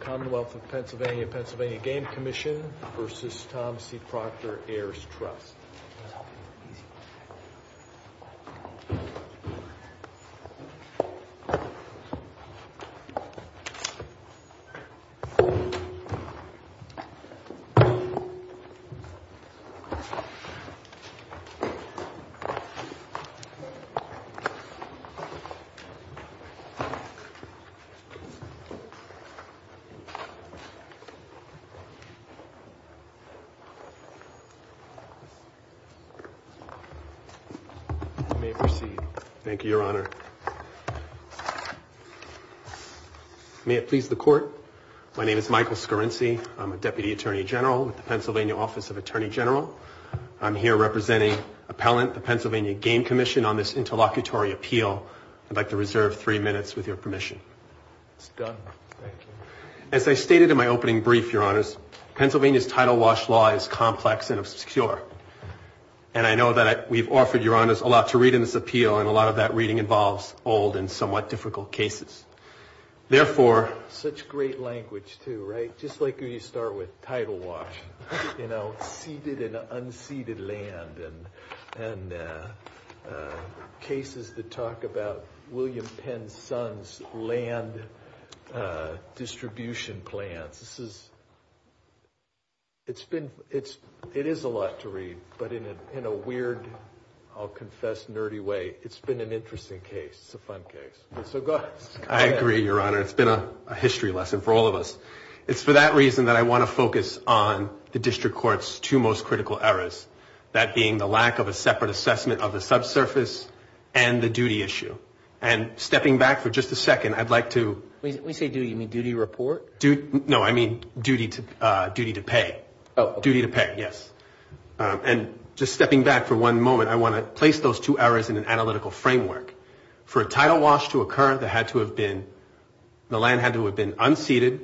Commonwealth of Pennsylvania, Pennsylvania Game Commission v. Thomas C. Proctor Heirs Trust You may proceed. Thank you, Your Honor. May it please the Court, my name is Michael Scarrinci. I'm a Deputy Attorney General with the Pennsylvania Office of Attorney General. I'm here representing Appellant, the Pennsylvania Game Commission on this interlocutory appeal. I'd like to reserve three minutes with your permission. It's done. Thank you. As I stated in my opening brief, Your Honors, Pennsylvania's title wash law is complex and obscure. And I know that we've offered Your Honors a lot to read in this appeal, and a lot of that reading involves old and somewhat difficult cases. Therefore... Such great language, too, right? Just like when you start with title wash. You know, seeded and unseeded land. And cases that talk about William Penn's son's land distribution plans. This is... It's been... It is a lot to read. But in a weird, I'll confess, nerdy way, it's been an interesting case. It's a fun case. So go ahead. I agree, Your Honor. It's been a history lesson for all of us. It's for that reason that I want to focus on the District Court's two most critical errors. That being the lack of a separate assessment of the subsurface and the duty issue. And stepping back for just a second, I'd like to... When you say duty, you mean duty report? No, I mean duty to pay. Duty to pay, yes. And just stepping back for one moment, I want to place those two errors in an analytical framework. For a title wash to occur, there had to have been... The land had to have been unseeded.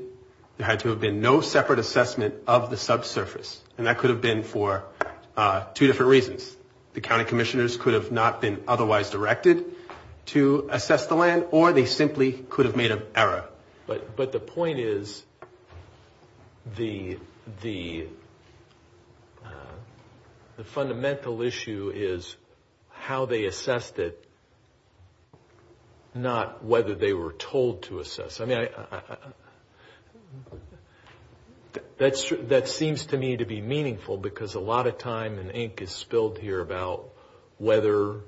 There had to have been no separate assessment of the subsurface. And that could have been for two different reasons. The county commissioners could have not been otherwise directed to assess the land, or they simply could have made an error. But the point is, the fundamental issue is how they assessed it, not whether they were told to assess it. That seems to me to be meaningful, because a lot of time and ink is spilled here about whether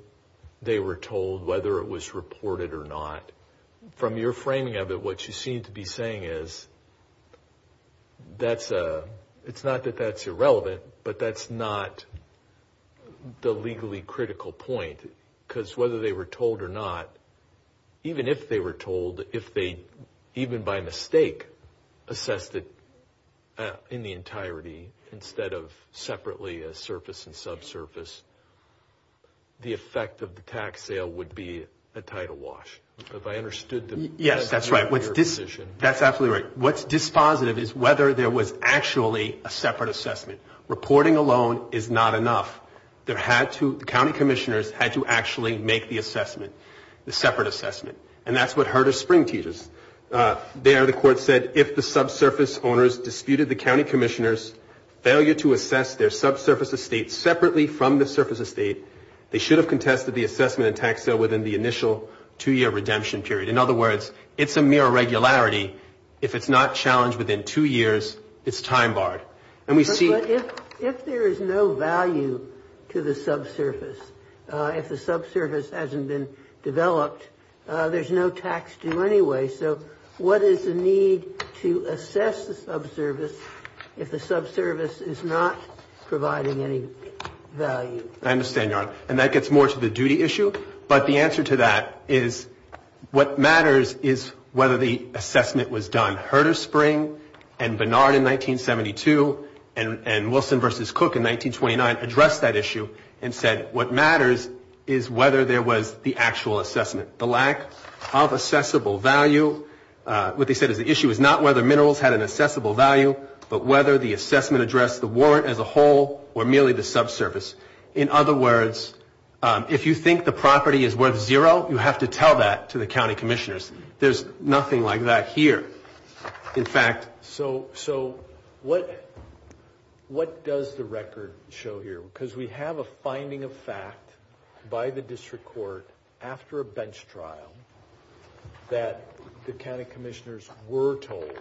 they were told, whether it was reported or not. From your framing of it, what you seem to be saying is, it's not that that's irrelevant, but that's not the legally critical point. Because whether they were told or not, even if they were told, if they even by mistake assessed it in the entirety, instead of separately as surface and subsurface, the effect of the tax sale would be a title wash. Have I understood the... Yes, that's right. That's absolutely right. What's dispositive is whether there was actually a separate assessment. Reporting alone is not enough. The county commissioners had to actually make the assessment, the separate assessment. And that's what Herder Spring teaches. There the court said, if the subsurface owners disputed the county commissioners' failure to assess their subsurface estate separately from the surface estate, they should have contested the assessment and tax sale within the initial two-year redemption period. In other words, it's a mere irregularity. If it's not challenged within two years, it's time barred. But if there is no value to the subsurface, if the subsurface hasn't been developed, there's no tax due anyway. So what is the need to assess the subsurface if the subsurface is not providing any value? I understand, Your Honor. And that gets more to the duty issue. But the answer to that is what matters is whether the assessment was done. And the county commissioners at Herder Spring and Bernard in 1972 and Wilson versus Cook in 1929 addressed that issue and said, what matters is whether there was the actual assessment. The lack of assessable value, what they said is the issue is not whether minerals had an assessable value, but whether the assessment addressed the warrant as a whole or merely the subsurface. In other words, if you think the property is worth zero, you have to tell that to the county commissioners. There's nothing like that here. In fact... So what does the record show here? Because we have a finding of fact by the district court after a bench trial that the county commissioners were told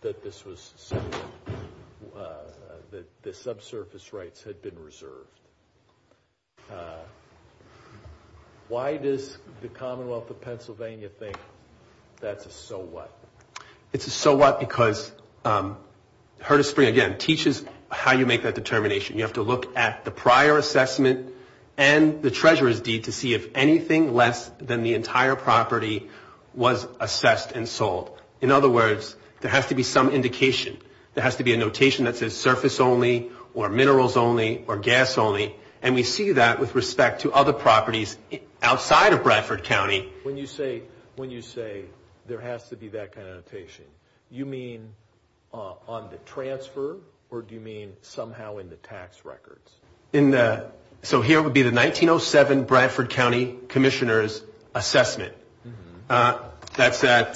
that the subsurface rights had been reserved. Why does the Commonwealth of Pennsylvania think that's a so what? It's a so what because Herder Spring, again, teaches how you make that determination. You have to look at the prior assessment and the treasurer's deed to see if anything less than the entire property was assessed and sold. In other words, there has to be some indication. There has to be a notation that says surface only or minerals only or gas only, and we see that with respect to other properties outside of Bradford County. When you say there has to be that kind of notation, you mean on the transfer or do you mean somehow in the tax records? So here would be the 1907 Bradford County commissioners assessment. That's at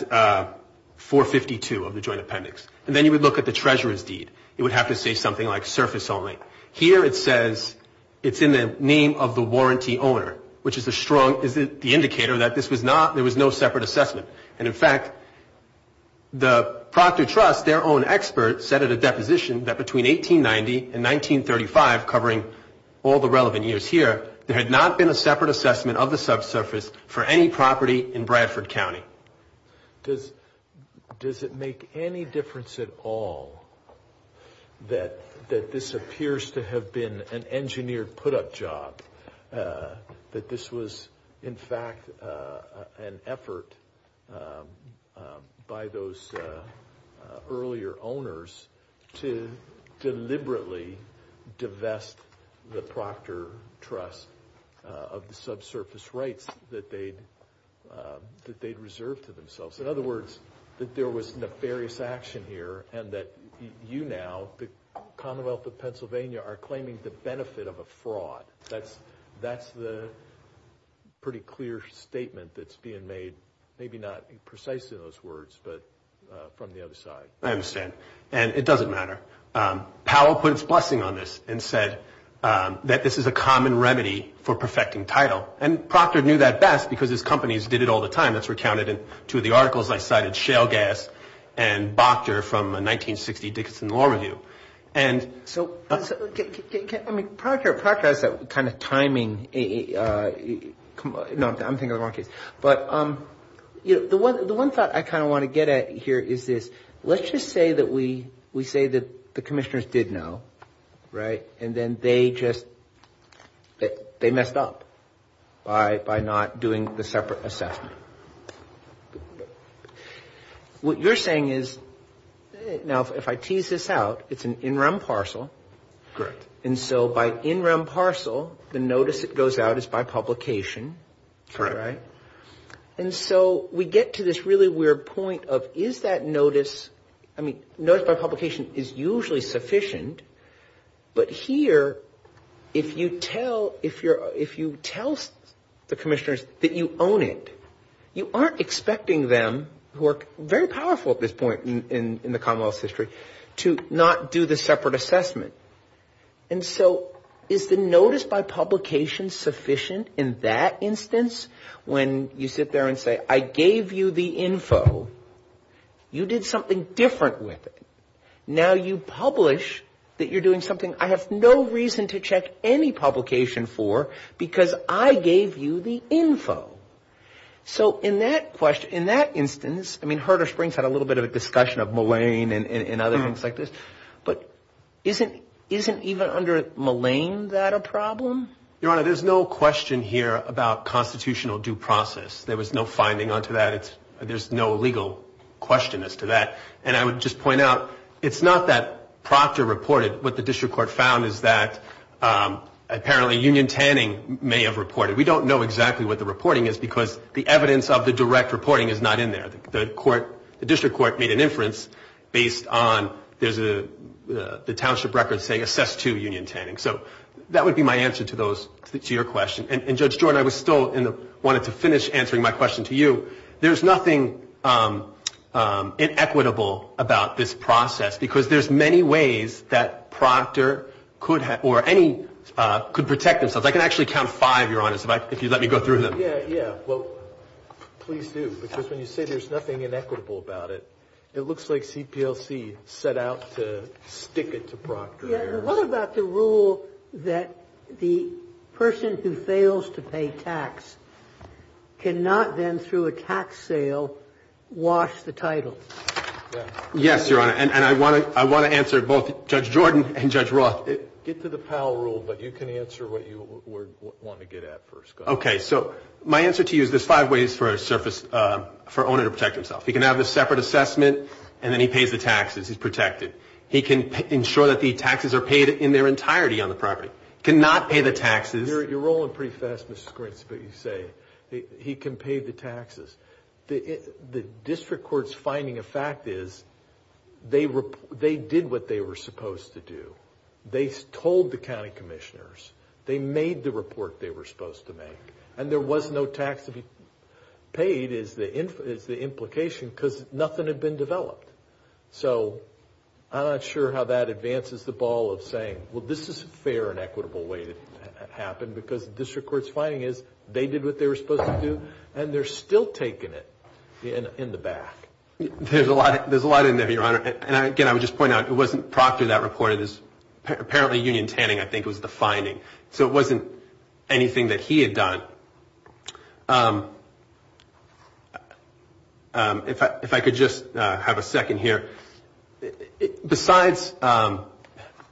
452 of the joint appendix. And then you would look at the treasurer's deed. It would have to say something like surface only. Here it says it's in the name of the warranty owner, which is a strong indicator that there was no separate assessment. And in fact, the Proctor Trust, their own expert, said at a deposition that between 1890 and 1935, covering all the relevant years here, there had not been a separate assessment of the subsurface for any property in Bradford County. Does it make any difference at all that this appears to have been an engineered put-up job? That this was in fact an effort by those earlier owners to deliberately divest the Proctor Trust of the subsurface rights that they'd reserved? In other words, that there was nefarious action here and that you now, the Commonwealth of Pennsylvania, are claiming the benefit of a fraud. That's the pretty clear statement that's being made, maybe not precisely in those words, but from the other side. I understand. And it doesn't matter. Powell put his blessing on this and said that this is a common remedy for perfecting title. And Proctor knew that best, because his companies did it all the time. That's recounted in two of the articles I cited, Shale Gas and Boctor from a 1960 Dickinson Law Review. And so, I mean, Proctor has that kind of timing. No, I'm thinking of the wrong case. But the one thought I kind of want to get at here is this. Let's just say that we say that the commissioners did know, right? And then they just, they messed up by not doing the separate assessment. What you're saying is, now, if I tease this out, it's an in-rem parcel. And so by in-rem parcel, the notice that goes out is by publication, right? And so we get to this really weird point of, is that notice, I mean, notice by publication is usually sufficient. But here, if you tell the commissioners that you own it, you aren't expecting them, who are very powerful at this point in the Commonwealth's history, to not do the separate assessment. And so is the notice by publication sufficient in that instance? When you sit there and say, I gave you the info, you did something different with it. Now you publish that you're doing something I have no reason to check any publication for, because I gave you the info. So in that question, in that instance, I mean, Herder Springs had a little bit of a discussion of Mullane and other things like this. But isn't even under Mullane that a problem? Your Honor, there's no question here about constitutional due process. There was no finding onto that. There's no legal question as to that. And I would just point out, it's not that Proctor reported. What the district court found is that apparently Union Tanning may have reported. We don't know exactly what the reporting is, because the evidence of the direct reporting is not in there. The district court made an inference based on the township record saying, assess to Union Tanning. So that would be my answer to your question. And Judge Jordan, I wanted to finish answering my question to you. There's nothing inequitable about this process, because there's many ways that Proctor could protect themselves. I can actually count five, Your Honor, if you'd let me go through them. Please do, because when you say there's nothing inequitable about it, it looks like CPLC set out to stick it to Proctor. What about the rule that the person who fails to pay tax cannot then, through a tax sale, wash the title? Yes, Your Honor. And I want to answer both Judge Jordan and Judge Roth. Get to the Powell rule, but you can answer what you want to get at first. Okay. So my answer to you is there's five ways for a surface, for an owner to protect himself. He can have a separate assessment, and then he pays the taxes. He's protected. He can ensure that the taxes are paid in their entirety on the property. Cannot pay the taxes. You're rolling pretty fast, Mr. Grint, is what you say. He can pay the taxes. The district court's finding of fact is they did what they were supposed to do. They told the county commissioners. They made the report they were supposed to make. And there was no tax to be paid is the implication, because nothing had been developed. So I'm not sure how that advances the ball of saying, well, this is a fair and equitable way to happen, because the district court's finding is they did what they were supposed to do, and they're still taking it in the back. There's a lot in there, Your Honor. And again, I would just point out it wasn't Proctor that reported this. Apparently, Union Tanning, I think, was the finding. So it wasn't anything that he had done. If I could just have a second here. Besides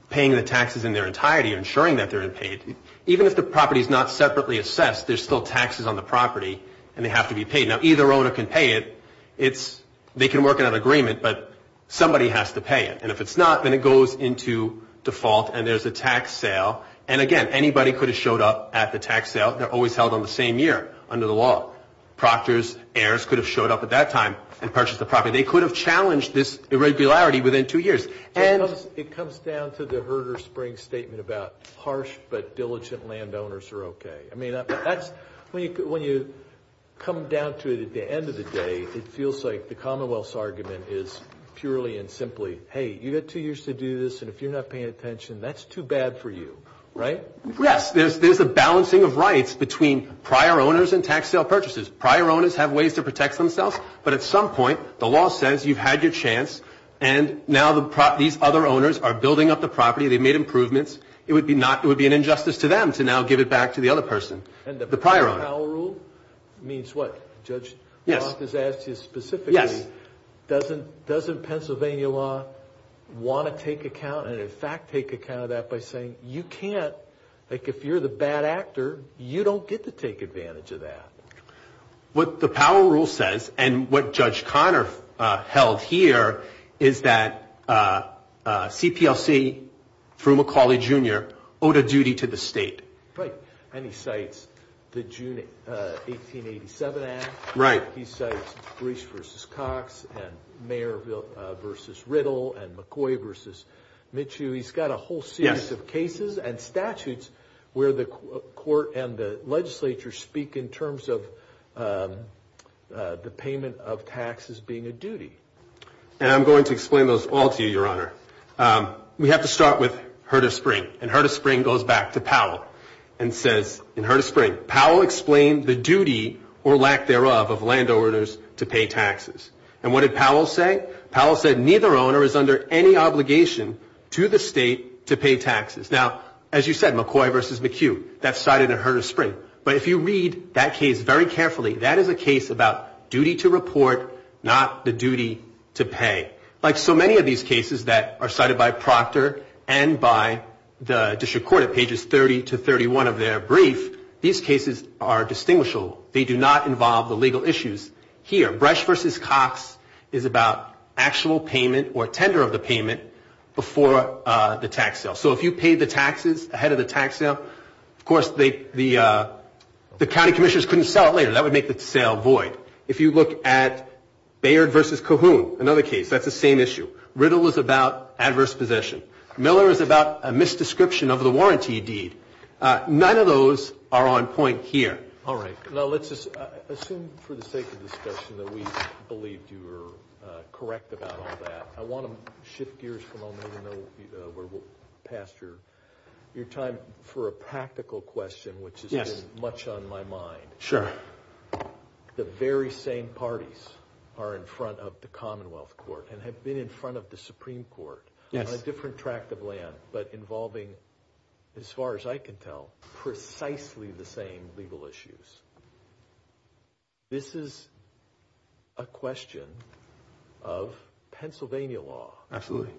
paying the taxes in their entirety or ensuring that they're paid, even if the property's not separately assessed, there's still taxes on the property, and they have to be paid. Now, either owner can pay it. They can work out an agreement, but somebody has to pay it. And if it's not, then it goes into default, and there's a tax sale. And again, anybody could have showed up at the tax sale. They're always held on the same year under the law. Proctor's heirs could have showed up at that time and purchased the property. They could have challenged this irregularity within two years. It comes down to the Herder-Spring statement about harsh but diligent landowners are okay. I mean, when you come down to it at the end of the day, it feels like the Commonwealth's argument is purely and simply, hey, you've got two years to do this, and if you're not paying attention, that's too bad for you, right? Yes. There's a balancing of rights between prior owners and tax sale purchases. Prior owners have ways to protect themselves, but at some point, the law says you've had your chance, and now these other owners are building up the property. They've made improvements. It would be an injustice to them to now give it back to the other person, the prior owner. And the Powell Rule means what? Judge Roth has asked you specifically, doesn't Pennsylvania law want to take account and in fact take account of that by saying you can't, like if you're the bad actor, you don't get to take advantage of that? What the Powell Rule says, and what Judge Conner held here, is that CPLC through McCauley, Jr. owed a duty to the state. Right. And he cites the June 1887 Act. Right. He cites Breach v. Cox and Mayer v. Riddle and McCoy v. Mitchell. He's got a whole series of cases and statutes where the court and the legislature speak in terms of the payment of taxes being a duty. And I'm going to explain those all to you, Your Honor. We have to start with Heard of Spring. And Heard of Spring goes back to Powell and says, in Heard of Spring, Powell explained the duty or lack thereof of landowners to pay taxes. And what did Powell say? Powell said neither owner is under any obligation to the state to pay taxes. Now, as you said, McCoy v. McHugh, that's cited in Heard of Spring. But if you read that case very carefully, that is a case about duty to report, not the duty to pay. Like so many of these cases that are cited by Proctor and by the district court at pages 30 to 31 of their brief, these cases are distinguishable. They do not involve the legal issues here. Breach v. Cox is about actual payment or tender of the payment before the tax sale. So if you paid the taxes ahead of the tax sale, of course, the county commissioners couldn't sell it later. That would make the sale void. If you look at Baird v. Cahoon, another case, that's the same issue. Riddle is about adverse possession. Miller is about a misdescription of the warranty deed. None of those are on point here. All right. Now, let's just assume for the sake of discussion that we believed you were correct about all that. I want to shift gears for a moment where we'll pass your time for a practical question, which has been much on my mind. Sure. The very same parties are in front of the Commonwealth Court and have been in front of the Supreme Court on a different tract of land, but involving, as far as I can tell, precisely the same legal issues. This is a question of Pennsylvania law. Absolutely.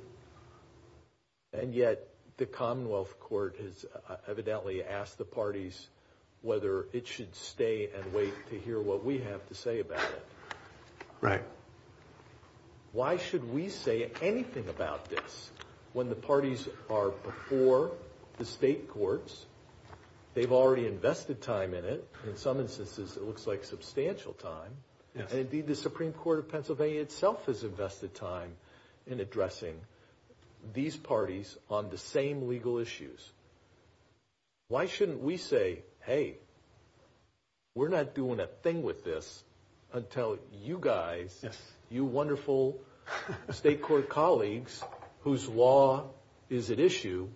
And yet the Commonwealth Court has evidently asked the parties whether it should stay and wait to hear what we have to say about it. Right. Why should we say anything about this when the parties are before the state courts? They've already invested time in it. In some instances, it looks like substantial time. And indeed, the Supreme Court of Pennsylvania itself has invested time in addressing these parties on the same legal issues. Why shouldn't we say, hey, we're not doing a thing with this until you guys, you wonderful state court colleagues, whose law is at issue,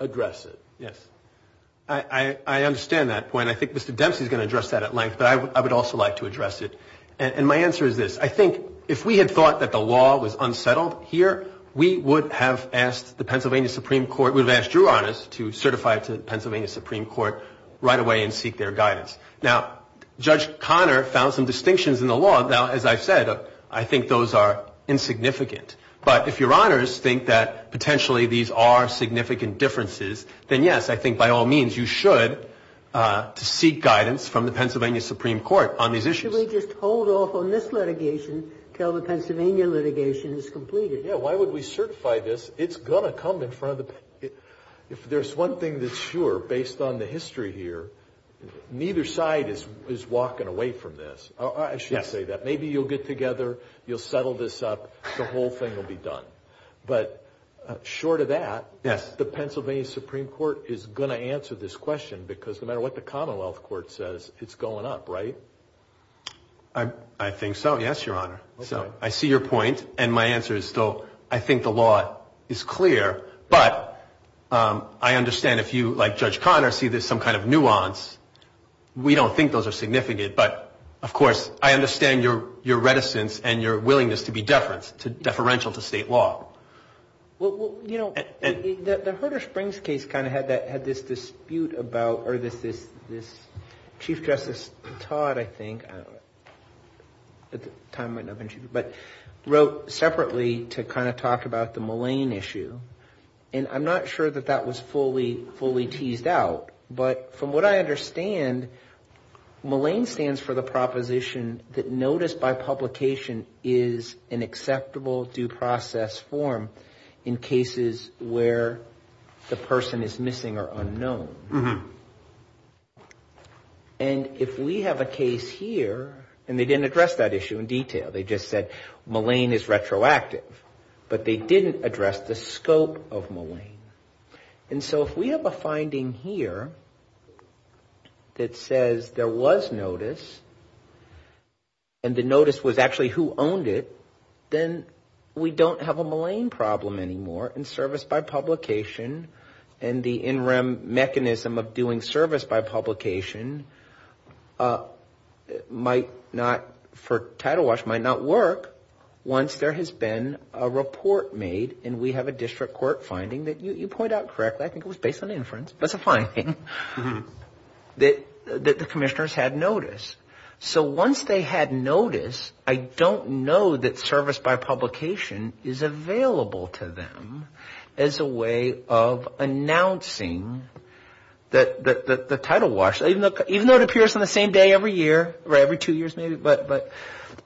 address it? Yes. I understand that point. I think Mr. Dempsey is going to address that at length, but I would also like to address it. And my answer is this. I think if we had thought that the law was unsettled here, we would have asked the Pennsylvania Supreme Court, we would have asked your honors to certify it to the Pennsylvania Supreme Court right away and seek their guidance. Now, Judge Conner found some distinctions in the law. Now, as I've said, I think those are insignificant. But if your honors think that potentially these are significant differences, then yes, I think by all means, you should seek guidance from the Pennsylvania Supreme Court on these issues. Should we just hold off on this litigation until the Pennsylvania litigation is completed? Yeah. Why would we certify this? It's going to come in front of the... If there's one thing that's sure, based on the history here, neither side is walking away from this. I should say that. Maybe you'll get together, you'll settle this up, the whole thing will be done. But short of that, the Pennsylvania Supreme Court is going to answer this question because no matter what the Commonwealth Court says, it's going up, right? I think so, yes, your honor. So I see your point, and my answer is still, I think the law is clear, but I understand if you, like Judge Conner, see there's some kind of nuance. We don't think those are significant, but of course, I understand your reticence and your willingness to be deferential to state law. Well, you know, the Herder-Springs case kind of had this dispute about, or this Chief Justice Todd, I think, at the time, wrote separately to kind of talk about the Mullane issue, and I'm not sure that that was fully teased out, but from what I understand, Mullane stands for the proposition that notice by publication is an acceptable due process form in cases where the person is missing or unknown. And if we have a case here, and they didn't address that issue in detail, they just said Mullane is retroactive, but they didn't address the scope of Mullane. And so if we have a finding here, that says there was notice, and the notice was actually who owned it, then we don't have a Mullane problem anymore, and service by publication, and the in rem mechanism of doing service by publication might not, for Title Watch, might not work once there has been a report made, and we have a district court finding that you point out correctly. I think it was based on inference, but it's a finding, that the commissioners had notice. So once they had notice, I don't know that service by publication is available to them. As a way of announcing that the Title Watch, even though it appears on the same day every year, or every two years maybe, but,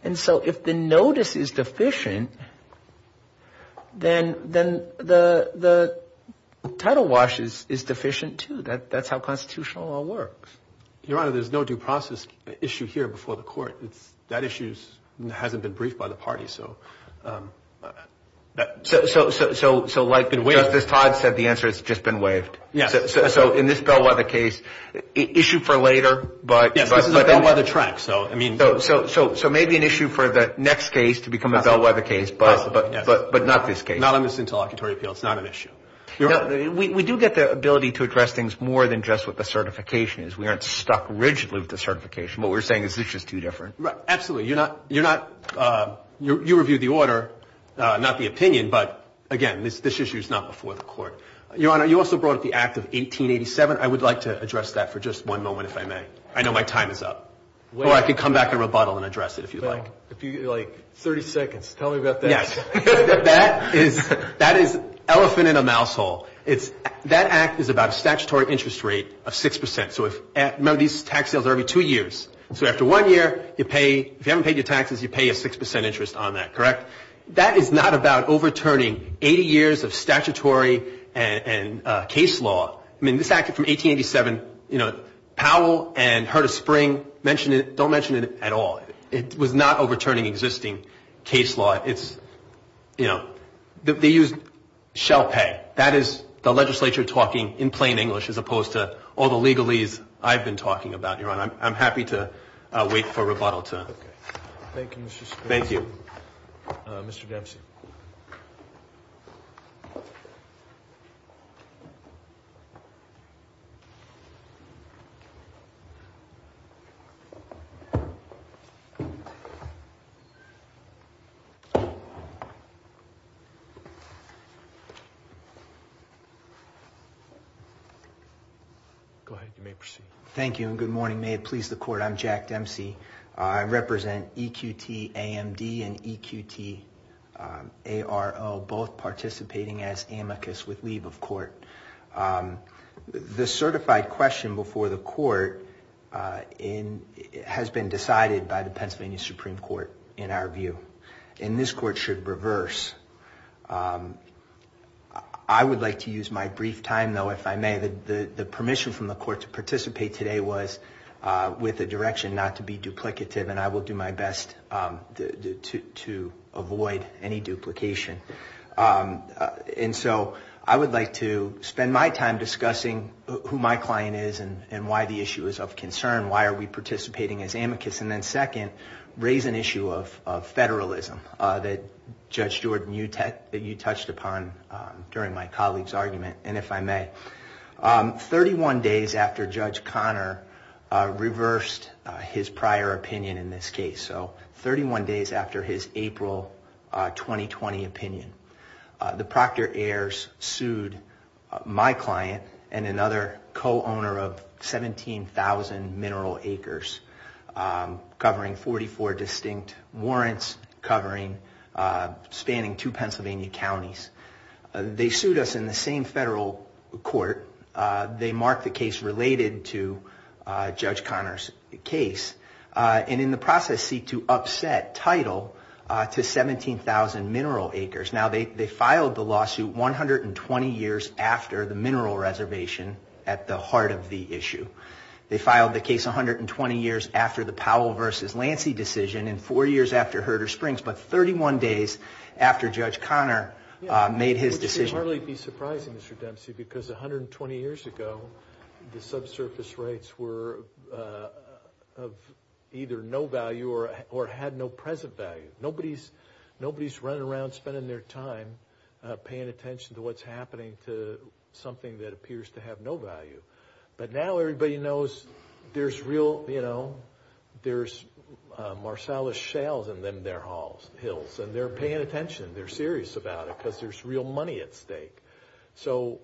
and so if the notice is deficient, then the Title Watch is not going to work. The Title Watch is deficient, too. That's how constitutional law works. Your Honor, there's no due process issue here before the court. That issue hasn't been briefed by the party. So like Justice Todd said, the answer has just been waived. So in this Bellwether case, issue for later, but... Yes, this is a Bellwether track, so I mean... So maybe an issue for the next case to become a Bellwether case, but not this case. Not on this interlocutory appeal. It's not an issue. We do get the ability to address things more than just what the certification is. We aren't stuck rigidly with the certification. What we're saying is this is too different. Absolutely. You're not, you review the order, not the opinion, but again, this issue is not before the court. Your Honor, you also brought up the Act of 1887. I would like to address that for just one moment, if I may. I know my time is up. Or I could come back and rebuttal and address it, if you'd like. 30 seconds. Tell me about that. That is elephant in a mouse hole. That Act is about a statutory interest rate of 6%. Remember, these tax sales are every two years. So after one year, if you haven't paid your taxes, you pay a 6% interest on that, correct? That is not about overturning 80 years of statutory and case law. I mean, this Act from 1887, Powell and Herta Spring don't mention it at all. It was not overturning existing case law. It's, you know, they used shell pay. That is the legislature talking in plain English as opposed to all the legalese I've been talking about, Your Honor. I'm happy to wait for rebuttal. Thank you. Go ahead. You may proceed. Thank you, and good morning. May it please the Court, I'm Jack Dempsey. I represent EQT AMD and EQT ARO, both participating as amicus with leave of court. The certified question before the Court has been decided by the plaintiffs. I would like to use my brief time, though, if I may, the permission from the Court to participate today was with a direction not to be duplicative, and I will do my best to avoid any duplication. And so I would like to spend my time discussing who my client is and why the issue is of concern. Why are we participating as amicus? And then second, I would like to spend my time discussing who my client is and why the issue is of concern. And then third, I would like to raise an issue of federalism that Judge Jordan, that you touched upon during my colleague's argument. And if I may, 31 days after Judge Conner reversed his prior opinion in this case, so 31 days after his April 2020 opinion, the Proctor heirs sued my client and another co-owner of 17,000 mineral acres covering 40 acres. They sued us in the same federal court. They marked the case related to Judge Conner's case, and in the process seek to upset title to 17,000 mineral acres. Now, they filed the lawsuit 120 years after the mineral reservation at the heart of the issue. They filed the case 120 years after the Powell versus Lancy decision, and four years after Herder Springs, but 31 days after Judge Conner made his decision. It would hardly be surprising, Mr. Dempsey, because 120 years ago, the subsurface rates were of either no value or had no present value. Nobody's running around spending their time paying attention to what's happening to something that appears to have no value. But now everybody knows there's real, you know, there's Marsalis shales in them, their halls, hills, and they're paying attention. They're serious about it because there's real money at stake. So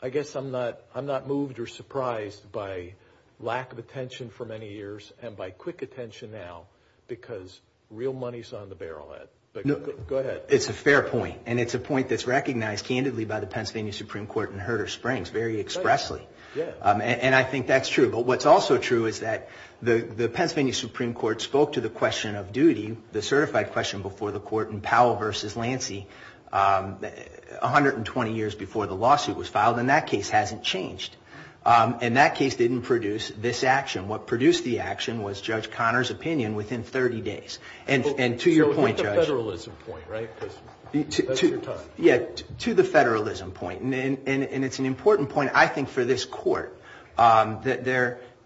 I guess I'm not, I'm not moved or surprised by lack of attention for many years and by quick attention now because real money's on the barrel head. Go ahead. It's a fair point, and it's a point that's recognized candidly by the Pennsylvania Supreme Court and Herder Springs very expressly. And I think that's true. But what's also true is that the Pennsylvania Supreme Court spoke to the question of duty, the certified question before the court in Powell versus Lancy 120 years before the lawsuit was filed, and that case hasn't changed. And that case didn't produce this action. What produced the action was Judge Conner's opinion within 30 days. And to your point, Judge. To the federalism point, right? Because that's your time. Yeah, to the federalism point. And it's an important point, I think, for this court that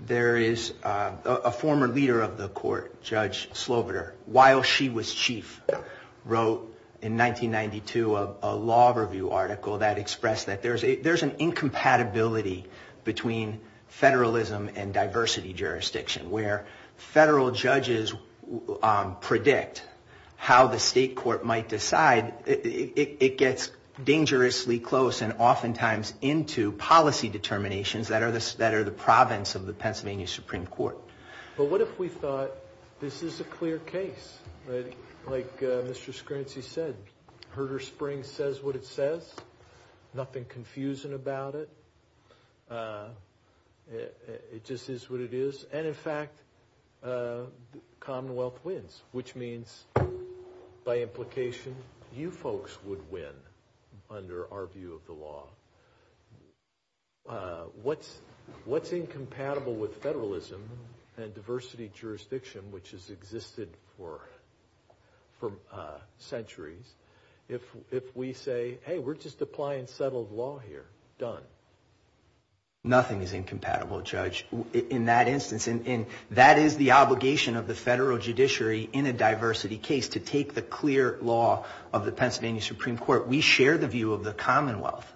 there is a former leader of the court, Judge Sloviter, while she was chief, wrote in 1992 a law review article that expressed that there's an incompatibility between federalism and diversity jurisdiction, where federal judges predict how the state is going to act. And I think that's important. And it's not a question that the state court might decide. It gets dangerously close and oftentimes into policy determinations that are the province of the Pennsylvania Supreme Court. But what if we thought this is a clear case, like Mr. Scrantzy said, Herder Springs says what it says, nothing confusing about it. It just is what it is. And in fact, Commonwealth wins, which means by law it's a clear case. And by implication, you folks would win under our view of the law. What's incompatible with federalism and diversity jurisdiction, which has existed for centuries, if we say, hey, we're just applying settled law here, done? Nothing is incompatible, Judge, in that instance. And that is the obligation of the federal judiciary in a diversity case, to take the clear law of the Pennsylvania Supreme Court. We share the view of the Commonwealth,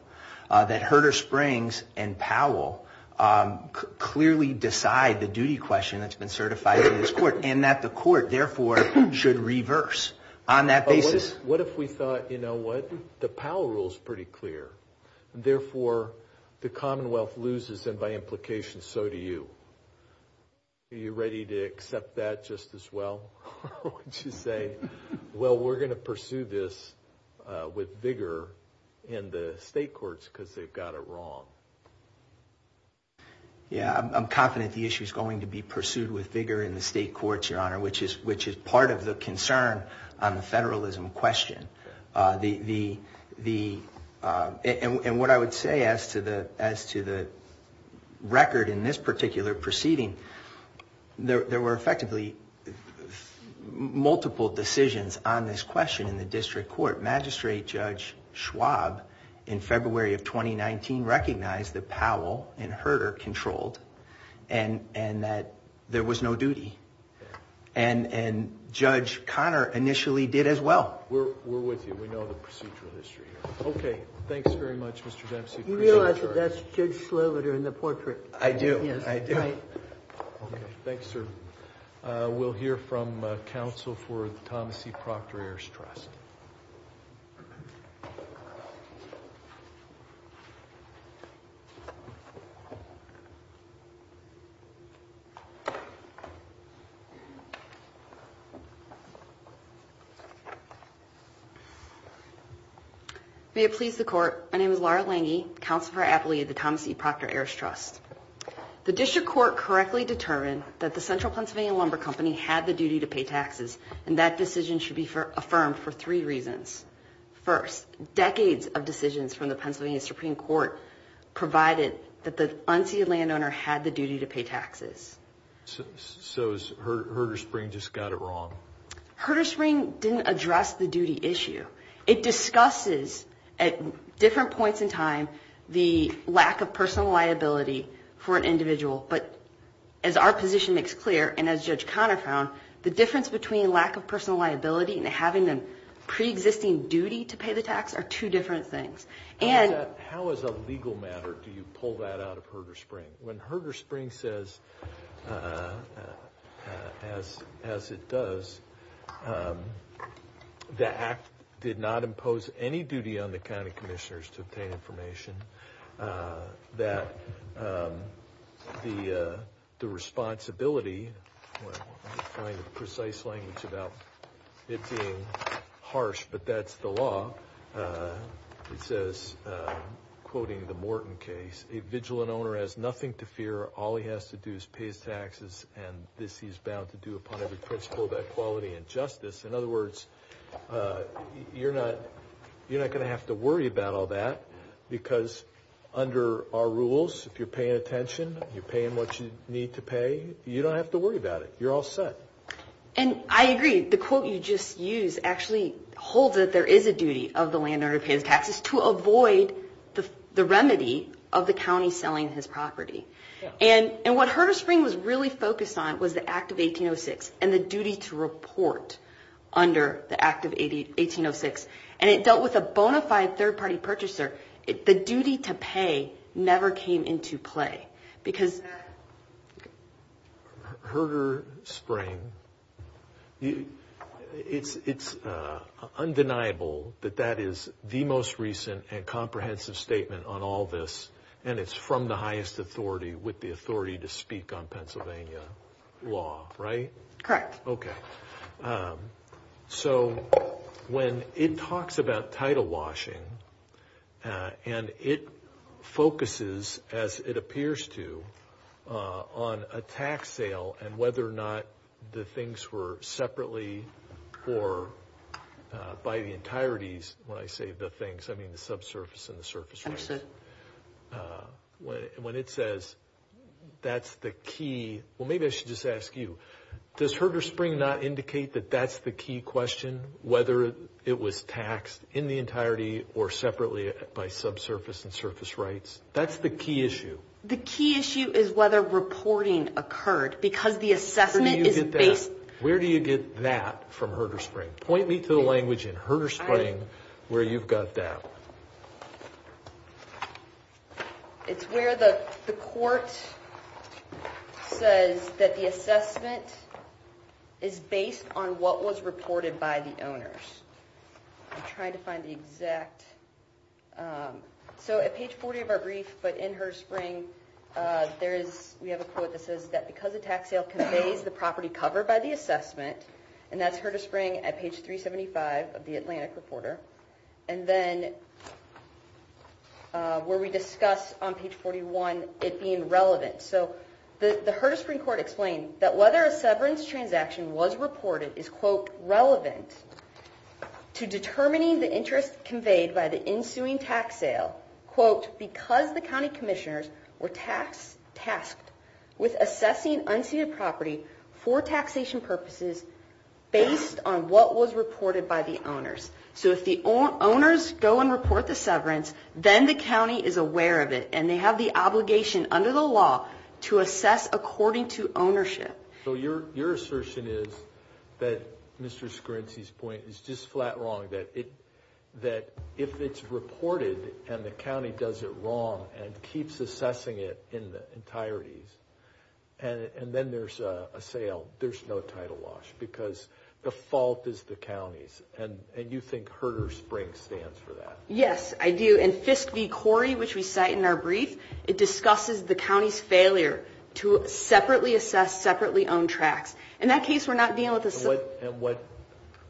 that Herder Springs and Powell clearly decide the duty question that's been certified in this court, and that the court, therefore, should reverse on that basis. What if we thought, you know what, the Powell rule is pretty clear, and therefore, the Commonwealth loses, and by implication, so do you. Are you ready to accept that just as well? Or would you say, well, we're going to pursue this with vigor in the state courts because they've got it wrong? Yeah, I'm confident the issue is going to be pursued with vigor in the state courts, Your Honor, which is part of the concern on the federalism question. And what I would say as to the record in this particular proceeding, there were effectively multiple decisions on this question in the district court. Magistrate Judge Schwab, in February of 2019, recognized that Powell and Herder controlled, and that there was no duty. And Judge Connor initially did as well. We're with you. We know the procedural history. Okay, thanks very much, Mr. Dempsey. You realize that that's Judge Sloviter in the portrait? I do, I do. Yes, right. Okay, thanks, sir. We'll hear from counsel for the Thomas E. Proctor Heirs Trust. May it please the court. My name is Laura Lange, counsel for the Thomas E. Proctor Heirs Trust. The district court correctly determined that the Central Pennsylvania Lumber Company had the duty to pay taxes, and that decision should be affirmed for three reasons. First, decades of decisions from the Pennsylvania Supreme Court provided that the unseeded landowner had the duty to pay taxes. So Herder-Spring just got it wrong? Herder-Spring didn't address the duty issue. It discusses, at different points in time, the lack of personal liability for an individual. But as our position makes clear, and as Judge Connor found, the difference between lack of personal liability and having a preexisting duty to pay the tax are two different things. How as a legal matter do you pull that out of Herder-Spring? When Herder-Spring says, as it does, the act did not impose any duty on the county commissioners to obtain information. It says, quoting the Morton case, a vigilant owner has nothing to fear. All he has to do is pay his taxes, and this he is bound to do upon every principle of equality and justice. In other words, you're not going to have to worry about all that, because under our rules, if you're paying attention, you're paying what you need to pay, you don't have to worry about it. You're all set. And I agree. The quote you just used actually holds that there is a duty of the landowner to pay his taxes to avoid the remedy of the county selling his property. And what Herder-Spring was really focused on was the Act of 1806 and the duty to report under the Act of 1806. And it dealt with a bona fide third-party purchaser. The duty to pay never came into play, because... Herder-Spring, it's undeniable that that is the most recent and comprehensive statement on all this, and it's from the highest authority with the authority to speak on Pennsylvania law, right? Correct. Okay. So when it talks about title washing, and it focuses, as it appears to, on a tax sale and whether or not the things were separately or by the entireties, when I say the things, I mean the subsurface and the surface rights. When it says that's the key, well, maybe I should just ask you, does Herder-Spring not indicate that that's the key question, whether it was taxed in the entirety or separately by subsurface and surface rights? That's the key issue. The key issue is whether reporting occurred, because the assessment is based... It's where the court says that the assessment is based on what was reported by the owners. I'm trying to find the exact... So at page 40 of our brief, but in Herder-Spring, we have a quote that says that because a tax sale conveys the property covered by the assessment, and that's Herder-Spring at page 375 of the Atlantic Reporter, and then where we discuss on page 41 it being relevant. So the Herder-Spring court explained that whether a severance transaction was reported is, quote, relevant to determining the interest conveyed by the ensuing tax sale, quote, because the county commissioners were tasked with assessing unceded property for taxation purposes based on what was reported by the owners. So if the owners go and report the severance, then the county is aware of it, and they have the obligation under the law to assess according to ownership. So your assertion is that Mr. Scrincy's point is just flat wrong, that if it's reported and the county does it wrong and keeps assessing it in the entireties, and then there's a sale, there's no title wash, because the fault is the county's, and you think Herder-Spring stands for that? Yes, I do. In Fisk v. Corey, which we cite in our brief, it discusses the county's failure to separately assess separately owned tracts. In that case, we're not dealing with a...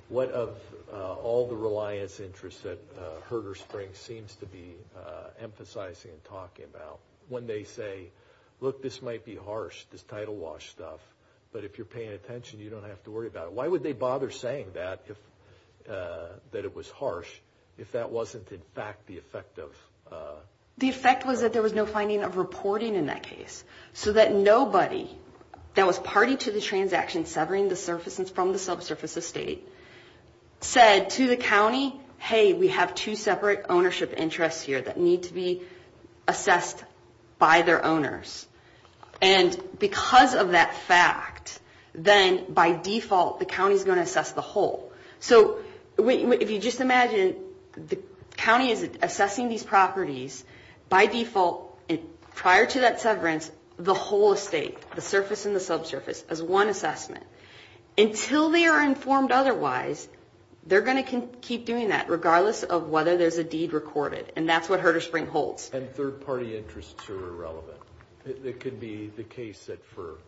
What of all the reliance interests that Herder-Spring seems to be emphasizing and talking about when they say, look, this might be harsh, this title wash stuff, but if you're paying attention, you don't have to worry about it? Why would they bother saying that, that it was harsh, if that wasn't in fact the effect of... said to the county, hey, we have two separate ownership interests here that need to be assessed by their owners. And because of that fact, then by default the county's going to assess the whole. So if you just imagine, the county is assessing these properties by default, and prior to that severance, the whole estate, the surface and the subsurface, is one assessment. Until they are informed otherwise, they're going to keep doing that, regardless of whether there's a deed recorded. And that's what Herder-Spring holds. And third-party interests are irrelevant. It could be the case that for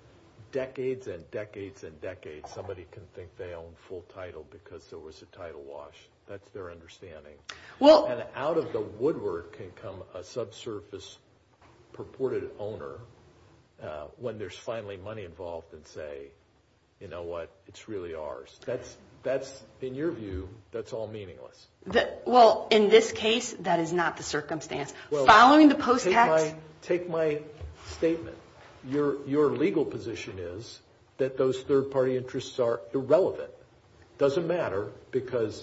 decades and decades and decades, somebody can think they own full title because there was a title wash. That's their understanding. And out of the woodwork can come a subsurface purported owner, when there's finally money involved, and say, you know what, it's really ours. That's, in your view, that's all meaningless. Well, in this case, that is not the circumstance. Following the post tax... Take my statement. Your legal position is that those third-party interests are irrelevant. It doesn't matter because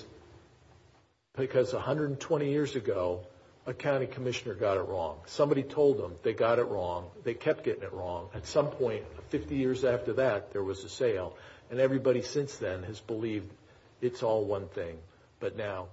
120 years ago, a county commissioner got it wrong. Somebody told them they got it wrong. They kept getting it wrong. At some point, 50 years after that, there was a sale. And everybody since then has believed it's all one thing. But now,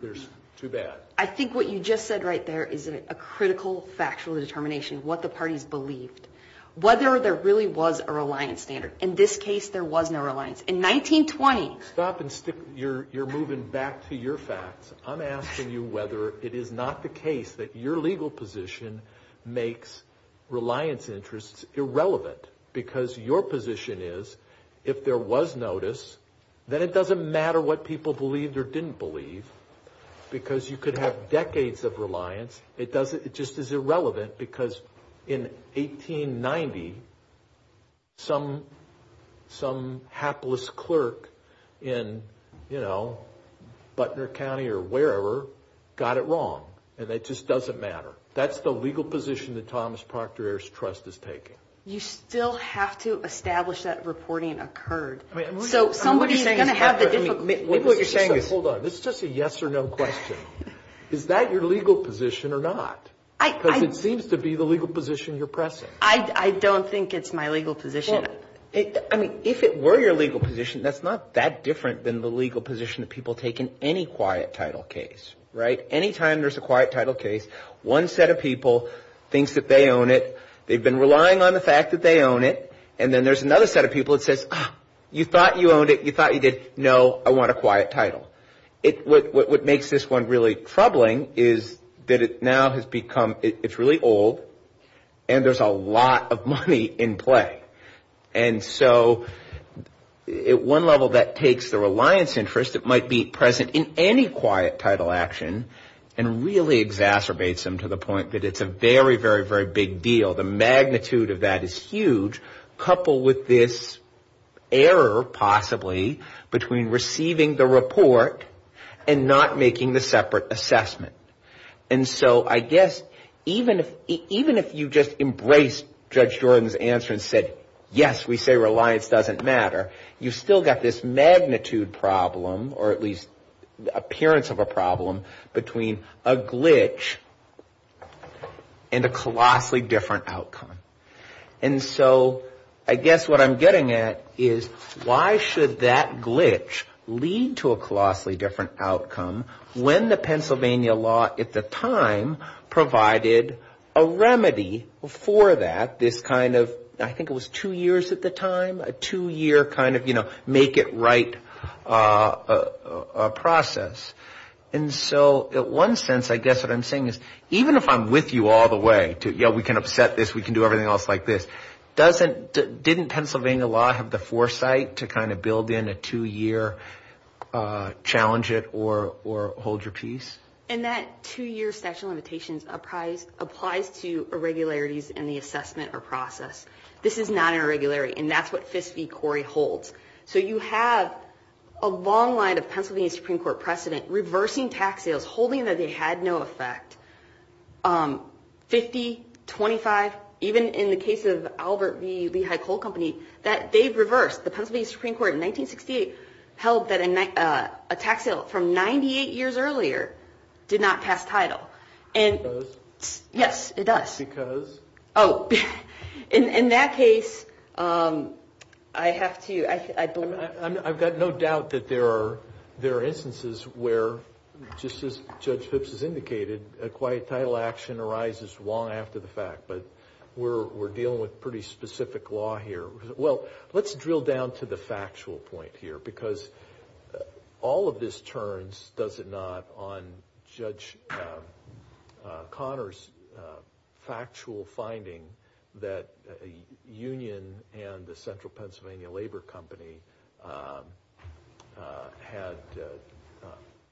there's too bad. I think what you just said right there is a critical factual determination, what the parties believed. Whether there really was a reliance standard. In this case, there was no reliance. In 1920... Stop and stick. You're moving back to your facts. I'm asking you whether it is not the case that your legal position makes reliance interests irrelevant. Because your position is, if there was notice, then it doesn't matter what people believed or didn't believe. Because you could have decades of reliance. It just is irrelevant because in 1890, some hapless clerk in, you know, Butner County or wherever, got it wrong. And it just doesn't matter. That's the legal position that Thomas Proctor Heirs Trust is taking. You still have to establish that reporting occurred. So, somebody's going to have the difficulty... Maybe what you're saying is... Hold on. This is just a yes or no question. Is that your legal position or not? Because it seems to be the legal position you're pressing. I don't think it's my legal position. I mean, if it were your legal position, that's not that different than the legal position that people take in any quiet title case. Right? Any time there's a quiet title case, one set of people thinks that they own it. They've been relying on the fact that they own it. And then there's another set of people that says, you thought you owned it. You thought you did. No, I want a quiet title. What makes this one really troubling is that it now has become... It's really old. And there's a lot of money in play. And so, at one level, that takes the reliance interest that might be present in any quiet title action and really exacerbates them to the point that it's a very, very, very big deal. The magnitude of that is huge. Coupled with this error, possibly, between receiving the report and not making the separate assessment. And so, I guess, even if you just embraced Judge Jordan's answer and said, yes, we say reliance doesn't matter, you've still got this magnitude problem, or at least the appearance of a problem, between a glitch and a colossally different outcome. And so, I guess what I'm getting at is, why should that glitch lead to a colossally different outcome when the Pennsylvania law at the time provided a remedy for that, this kind of, I think it was two years at the time, a two-year kind of, you know, make it right process. And so, in one sense, I guess what I'm saying is, even if I'm with you all the way to, you know, we can upset this, we can do everything else like this, didn't Pennsylvania law have the foresight to kind of build in a two-year challenge it or hold your peace? And that two-year statute of limitations applies to irregularities in the assessment or process. This is not an irregularity, and that's what Fisk v. Corey holds. So, you have a long line of Pennsylvania Supreme Court precedent reversing tax sales, holding that they had no effect, 50, 25, even in the case of Albert v. Lehigh Coal Company, that they've reversed. The Pennsylvania Supreme Court in 1968 held that a tax sale from 98 years earlier did not pass title. It does? Yes, it does. Because? Oh, in that case, I have to, I believe. I've got no doubt that there are instances where, just as Judge Phipps has indicated, a quiet title action arises long after the fact, but we're dealing with pretty specific law here. Well, let's drill down to the factual point here, because all of this turns, does it not, on Judge Conner's factual finding that a union and the Central Pennsylvania Labor Company had,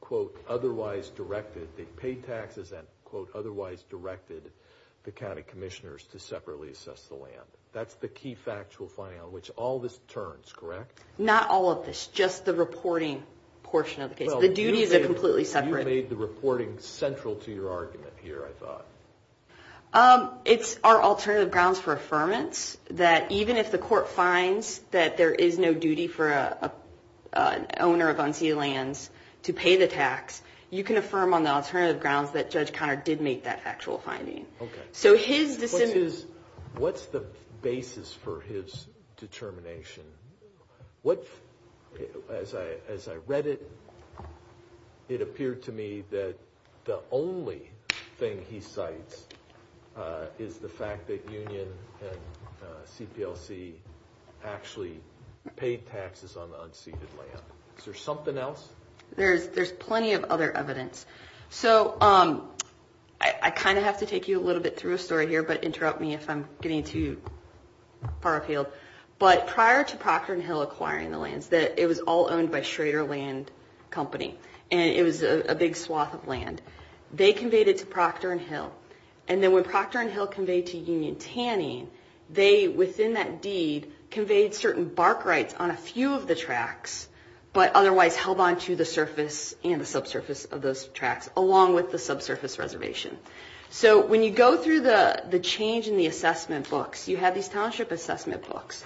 quote, otherwise directed, they paid taxes and, quote, otherwise directed the county commissioners to separately assess the land. That's the key factual finding on which all this turns, correct? Not all of this, just the reporting portion of the case. The duties are completely separate. You made the reporting central to your argument here, I thought. It's our alternative grounds for affirmance that even if the court finds that there is no duty for an owner of unsealed lands to pay the tax, you can affirm on the alternative grounds that Judge Conner did make that factual finding. Okay. So his dissent is... What's the basis for his determination? As I read it, it appeared to me that the only thing he cites is the fact that union and CPLC actually paid taxes on the unseated land. Is there something else? There's plenty of other evidence. So I kind of have to take you a little bit through a story here, but interrupt me if I'm getting too far afield. But prior to Procter & Hill acquiring the lands, it was all owned by Schrader Land Company, and it was a big swath of land. They conveyed it to Procter & Hill, and then when Procter & Hill conveyed to Union Tanning, they, within that deed, conveyed certain bark rights on a few of the tracts, but otherwise held on to the surface and the subsurface of those tracts, along with the subsurface reservation. So when you go through the change in the assessment books, you have these township assessment books,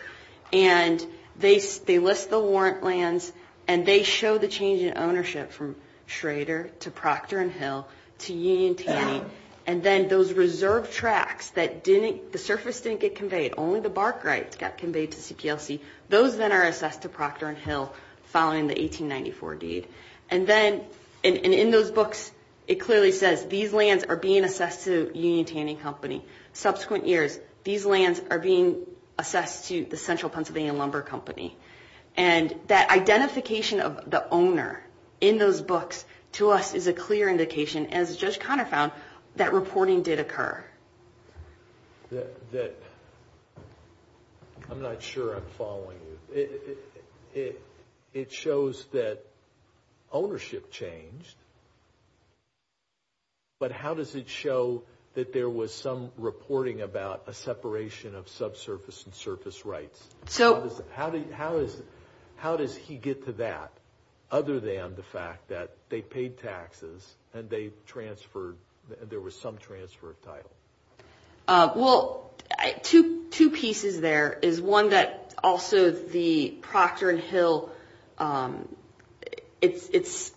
and they list the warrant lands, and they show the change in ownership from Schrader to Procter & Hill to Union Tanning, and then those reserve tracts that didn't, the surface didn't get conveyed, only the bark rights got conveyed to CPLC, those then are assessed to Procter & Hill following the 1894 deed. And then, and in those books, it clearly says these lands are being assessed to Union Tanning Company. Subsequent years, these lands are being assessed to the Central Pennsylvania Lumber Company. And that identification of the owner in those books to us is a clear indication, as Judge Connor found, that reporting did occur. That, I'm not sure I'm following you. It shows that ownership changed, but how does it show that there was some reporting about a separation of subsurface and surface rights? How does he get to that, other than the fact that they paid taxes and they transferred, and there was some transfer of title? Well, two pieces there is one that also the Procter & Hill, it's,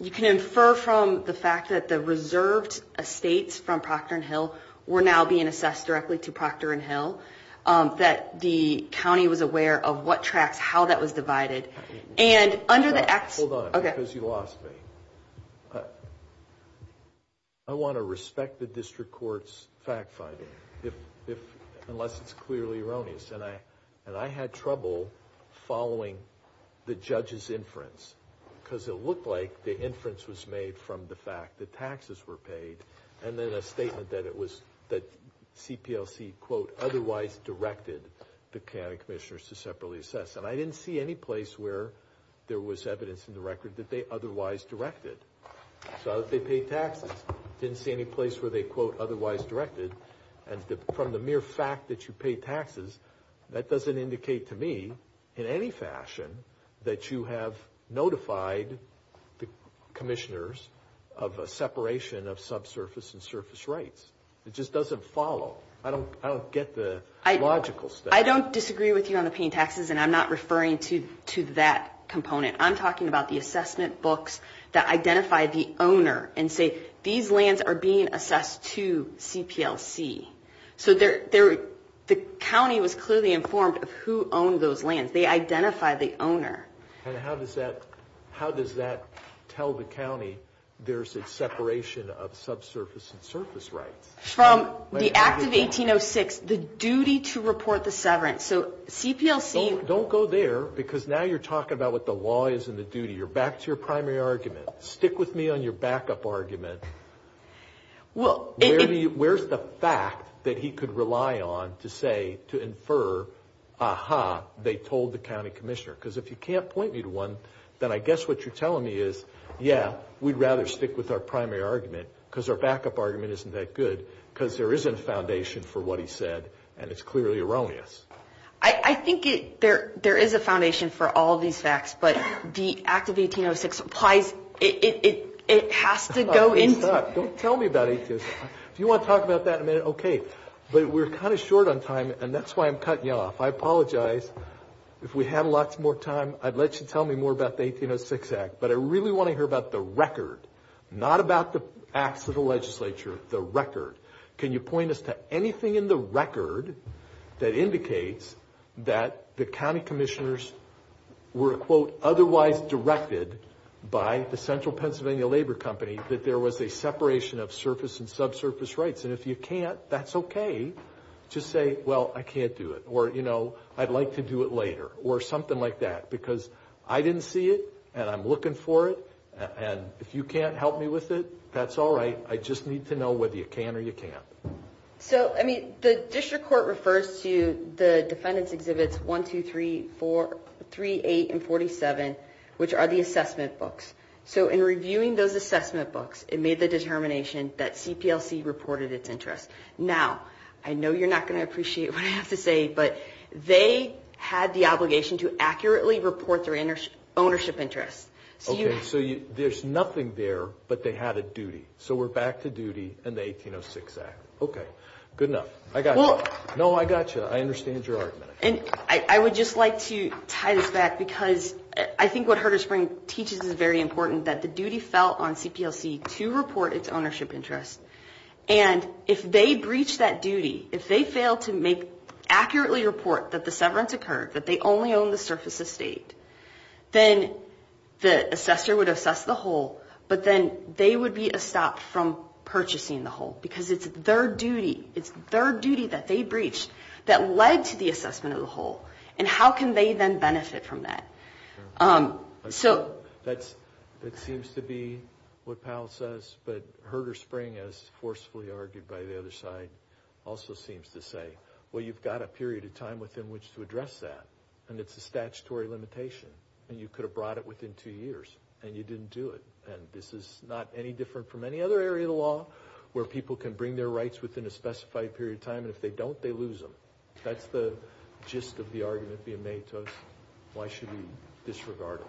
you can infer from the fact that the reserved estates from Procter & Hill were now being assessed directly to Procter & Hill. That the county was aware of what tracts, how that was divided. And under the act... Hold on, because you lost me. I want to respect the district court's fact-finding, unless it's clearly erroneous. And I had trouble following the judge's inference, because it looked like the inference was made from the fact that taxes were paid, and then a statement that it was, that CPLC, quote, otherwise directed the county commissioners to separately assess. And I didn't see any place where there was evidence in the record that they otherwise directed. I saw that they paid taxes. I didn't see any place where they, quote, otherwise directed. And from the mere fact that you paid taxes, that doesn't indicate to me in any fashion that you have notified the commissioners of a separation of subsurface and surface rights. It just doesn't follow. I don't get the logical stuff. I don't disagree with you on the paying taxes, and I'm not referring to that component. I'm talking about the assessment books that identify the owner and say, these lands are being assessed to CPLC. So the county was clearly informed of who owned those lands. They identified the owner. And how does that tell the county there's a separation of subsurface and surface rights? From the Act of 1806, the duty to report the severance. So CPLC — Don't go there, because now you're talking about what the law is and the duty. You're back to your primary argument. Stick with me on your backup argument. Where's the fact that he could rely on to say, to infer, aha, they told the county commissioner? Because if you can't point me to one, then I guess what you're telling me is, yeah, we'd rather stick with our primary argument, because our backup argument isn't that good, because there isn't a foundation for what he said, and it's clearly erroneous. I think there is a foundation for all these facts, but the Act of 1806 implies it has to go into — Don't tell me about 1806. If you want to talk about that in a minute, okay. But we're kind of short on time, and that's why I'm cutting you off. I apologize. If we had lots more time, I'd let you tell me more about the 1806 Act. But I really want to hear about the record, not about the acts of the legislature, the record. Can you point us to anything in the record that indicates that the county commissioners were, quote, otherwise directed by the Central Pennsylvania Labor Company that there was a separation of surface and subsurface rights? And if you can't, that's okay. Just say, well, I can't do it, or, you know, I'd like to do it later, or something like that, because I didn't see it, and I'm looking for it, and if you can't help me with it, that's all right. I just need to know whether you can or you can't. So, I mean, the district court refers to the defendants' exhibits 1, 2, 3, 4, 3, 8, and 47, which are the assessment books. So in reviewing those assessment books, it made the determination that CPLC reported its interests. Now, I know you're not going to appreciate what I have to say, but they had the obligation to accurately report their ownership interests. Okay, so there's nothing there, but they had a duty. So we're back to duty in the 1806 Act. Okay, good enough. I got you. No, I got you. I understand your argument. And I would just like to tie this back, because I think what Herder-Spring teaches is very important, that the duty fell on CPLC to report its ownership interests. And if they breached that duty, if they failed to accurately report that the severance occurred, that they only owned the surface estate, then the assessor would assess the whole, but then they would be stopped from purchasing the whole, because it's their duty. It's their duty that they breached that led to the assessment of the whole. And how can they then benefit from that? That seems to be what Powell says, but Herder-Spring, as forcefully argued by the other side, also seems to say, well, you've got a period of time within which to address that, and it's a statutory limitation, and you could have brought it within two years, and you didn't do it. And this is not any different from any other area of the law, where people can bring their rights within a specified period of time, and if they don't, they lose them. That's the gist of the argument being made to us. Why should we disregard it?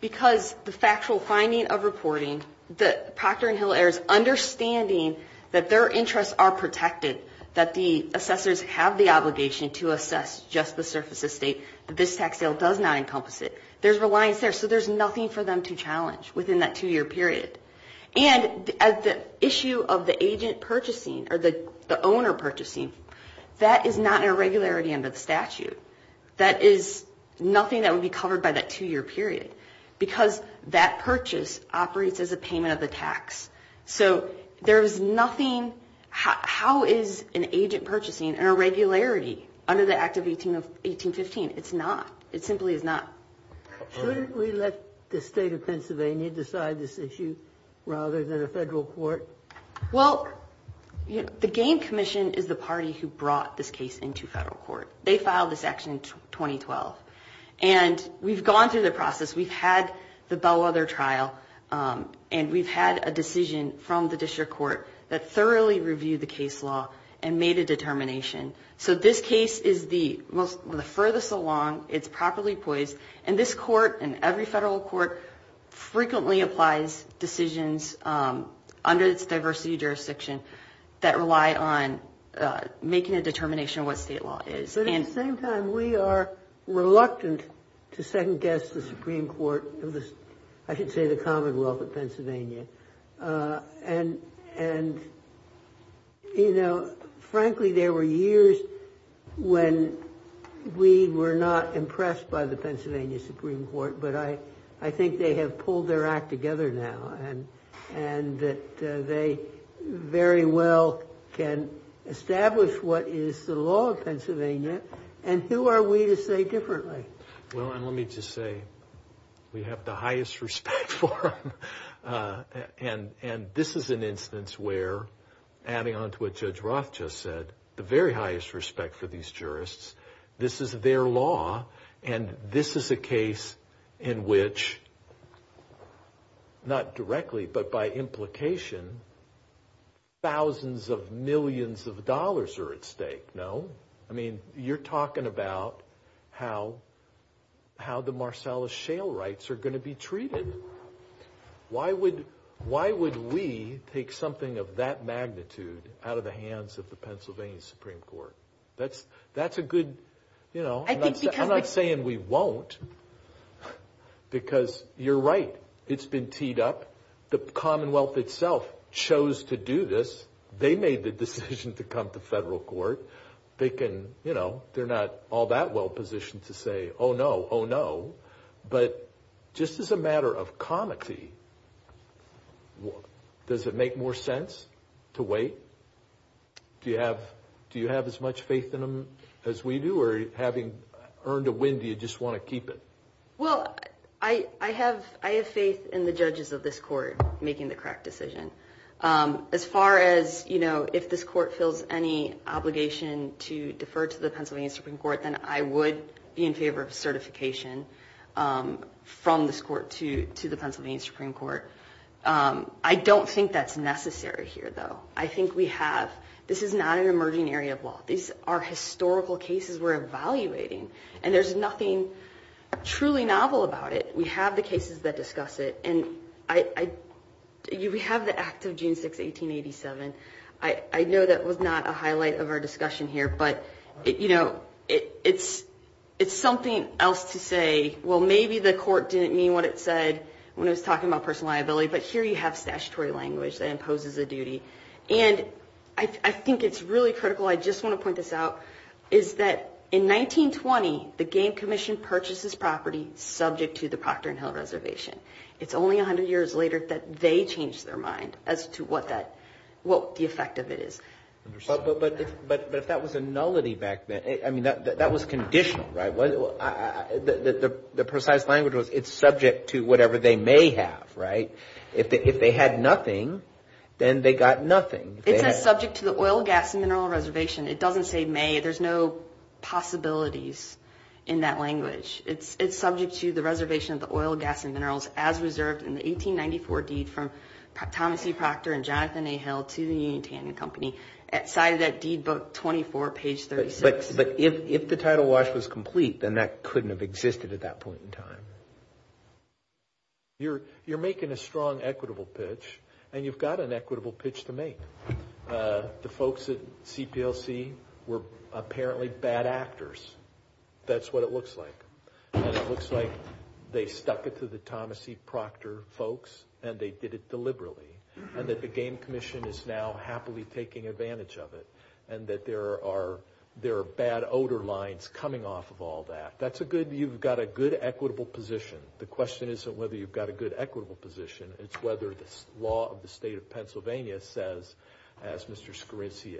Because the factual finding of reporting, the Procter & Hill heirs understanding that their interests are protected, that the assessors have the obligation to assess just the surface estate, that this tax sale does not encompass it, there's reliance there, so there's nothing for them to challenge within that two-year period. And the issue of the agent purchasing, or the owner purchasing, that is not an irregularity under the statute. That is nothing that would be covered by that two-year period, because that purchase operates as a payment of the tax. So there's nothing ñ how is an agent purchasing an irregularity under the Act of 1815? It's not. It simply is not. Should we let the state of Pennsylvania decide this issue rather than a federal court? Well, the Gain Commission is the party who brought this case into federal court. They filed this action in 2012, and we've gone through the process. We've had the Bellwether trial, and we've had a decision from the district court that thoroughly reviewed the case law and made a determination. So this case is the furthest along. It's properly poised. And this court and every federal court frequently applies decisions under its diversity jurisdiction that rely on making a determination of what state law is. But at the same time, we are reluctant to second-guess the Supreme Court of the ñ I should say the Commonwealth of Pennsylvania. And, you know, frankly, there were years when we were not impressed by the Pennsylvania Supreme Court, but I think they have pulled their act together now and that they very well can establish what is the law of Pennsylvania. And who are we to say differently? Well, and let me just say we have the highest respect for them. And this is an instance where, adding on to what Judge Roth just said, the very highest respect for these jurists. This is their law, and this is a case in which ñ not directly, but by implication ñ thousands of millions of dollars are at stake. No? I mean, you're talking about how the Marsalis Shale rights are going to be treated. Why would we take something of that magnitude out of the hands of the Pennsylvania Supreme Court? That's a good, you know ñ I think because ñ I'm not saying we won't, because you're right. It's been teed up. The Commonwealth itself chose to do this. They made the decision to come to federal court. They can ñ you know, they're not all that well positioned to say, oh, no, oh, no. But just as a matter of comity, does it make more sense to wait? Do you have as much faith in them as we do, or having earned a win, do you just want to keep it? Well, I have faith in the judges of this court making the correct decision. As far as, you know, if this court feels any obligation to defer to the Pennsylvania Supreme Court, then I would be in favor of certification from this court to the Pennsylvania Supreme Court. I don't think that's necessary here, though. I think we have ñ this is not an emerging area of law. These are historical cases we're evaluating, and there's nothing truly novel about it. We have the cases that discuss it, and I ñ we have the Act of June 6, 1887. I know that was not a highlight of our discussion here, but, you know, it's something else to say, well, maybe the court didn't mean what it said when it was talking about personal liability, but here you have statutory language that imposes a duty. And I think it's really critical ñ I just want to point this out ñ is that in 1920, the Game Commission purchased this property subject to the Procter and Hill Reservation. It's only 100 years later that they changed their mind as to what that ñ what the effect of it is. But if that was a nullity back then, I mean, that was conditional, right? The precise language was it's subject to whatever they may have, right? If they had nothing, then they got nothing. It says subject to the oil, gas, and mineral reservation. It doesn't say may. There's no possibilities in that language. It's subject to the reservation of the oil, gas, and minerals as reserved in the 1894 deed from Thomas E. Procter and Jonathan A. Hill to the Union Tandon Company, cited at deed book 24, page 36. But if the title wash was complete, then that couldn't have existed at that point in time. You're making a strong equitable pitch, and you've got an equitable pitch to make. The folks at CPLC were apparently bad actors. That's what it looks like. And it looks like they stuck it to the Thomas E. Procter folks, and they did it deliberately, and that the Game Commission is now happily taking advantage of it, and that there are bad odor lines coming off of all that. You've got a good equitable position. The question isn't whether you've got a good equitable position. It's whether the law of the state of Pennsylvania says, as Mr. Scorinci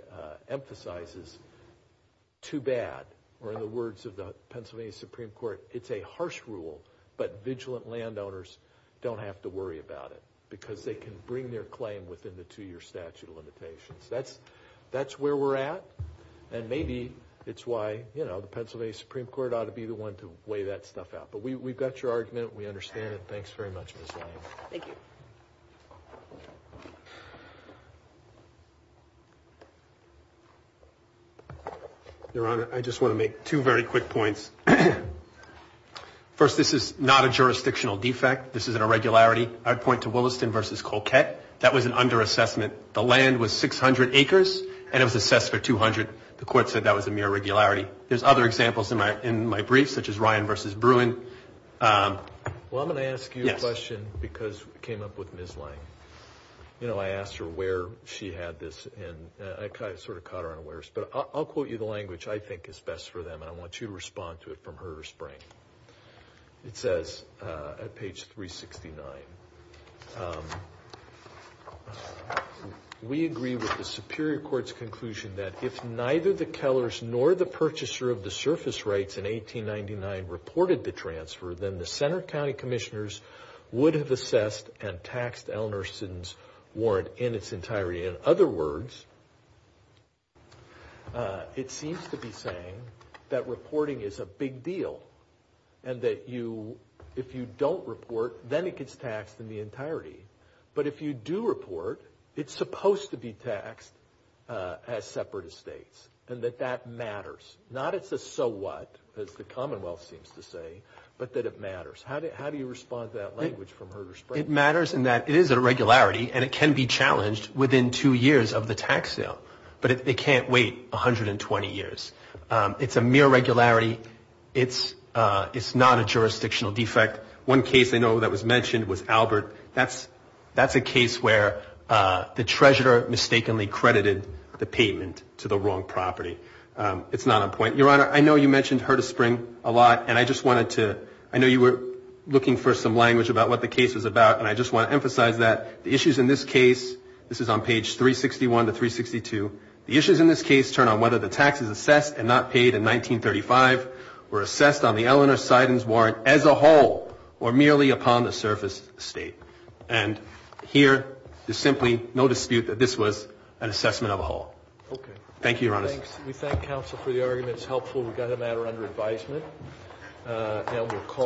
emphasizes, too bad. Or in the words of the Pennsylvania Supreme Court, it's a harsh rule, but vigilant landowners don't have to worry about it because they can bring their claim within the two-year statute of limitations. That's where we're at, and maybe it's why, you know, the Pennsylvania Supreme Court ought to be the one to weigh that stuff out. But we've got your argument. We understand it. Thanks very much, Ms. Lyons. Thank you. Your Honor, I just want to make two very quick points. First, this is not a jurisdictional defect. This is an irregularity. I'd point to Williston v. Colquette. That was an under-assessment. The land was 600 acres, and it was assessed for 200. The court said that was a mere irregularity. There's other examples in my brief, such as Ryan v. Bruin. Well, I'm going to ask you a question because we came up with Ms. Lyons. You know, I asked her where she had this, and I sort of caught her unawares. But I'll quote you the language I think is best for them, and I want you to respond to it from her spring. It says at page 369, We agree with the Superior Court's conclusion that if neither the Kellers nor the purchaser of the surface rights in 1899 reported the transfer, then the Center County Commissioners would have assessed and taxed Ellinor-Stitton's warrant in its entirety. In other words, it seems to be saying that reporting is a big deal and that if you don't report, then it gets taxed in the entirety. But if you do report, it's supposed to be taxed as separate estates and that that matters. Not it's a so what, as the Commonwealth seems to say, but that it matters. How do you respond to that language from her spring? Well, it matters in that it is a regularity, and it can be challenged within two years of the tax sale. But it can't wait 120 years. It's a mere regularity. It's not a jurisdictional defect. One case I know that was mentioned was Albert. That's a case where the treasurer mistakenly credited the payment to the wrong property. It's not on point. Your Honor, I know you mentioned her to spring a lot, and I just wanted to, I know you were looking for some language about what the case was about, and I just want to emphasize that the issues in this case, this is on page 361 to 362, the issues in this case turn on whether the taxes assessed and not paid in 1935 were assessed on the Eleanor Seiden's warrant as a whole or merely upon the surface estate. And here there's simply no dispute that this was an assessment of a whole. Okay. Thank you, Your Honor. We thank counsel for the argument. It's helpful. We've got a matter under advisement. We'll call it.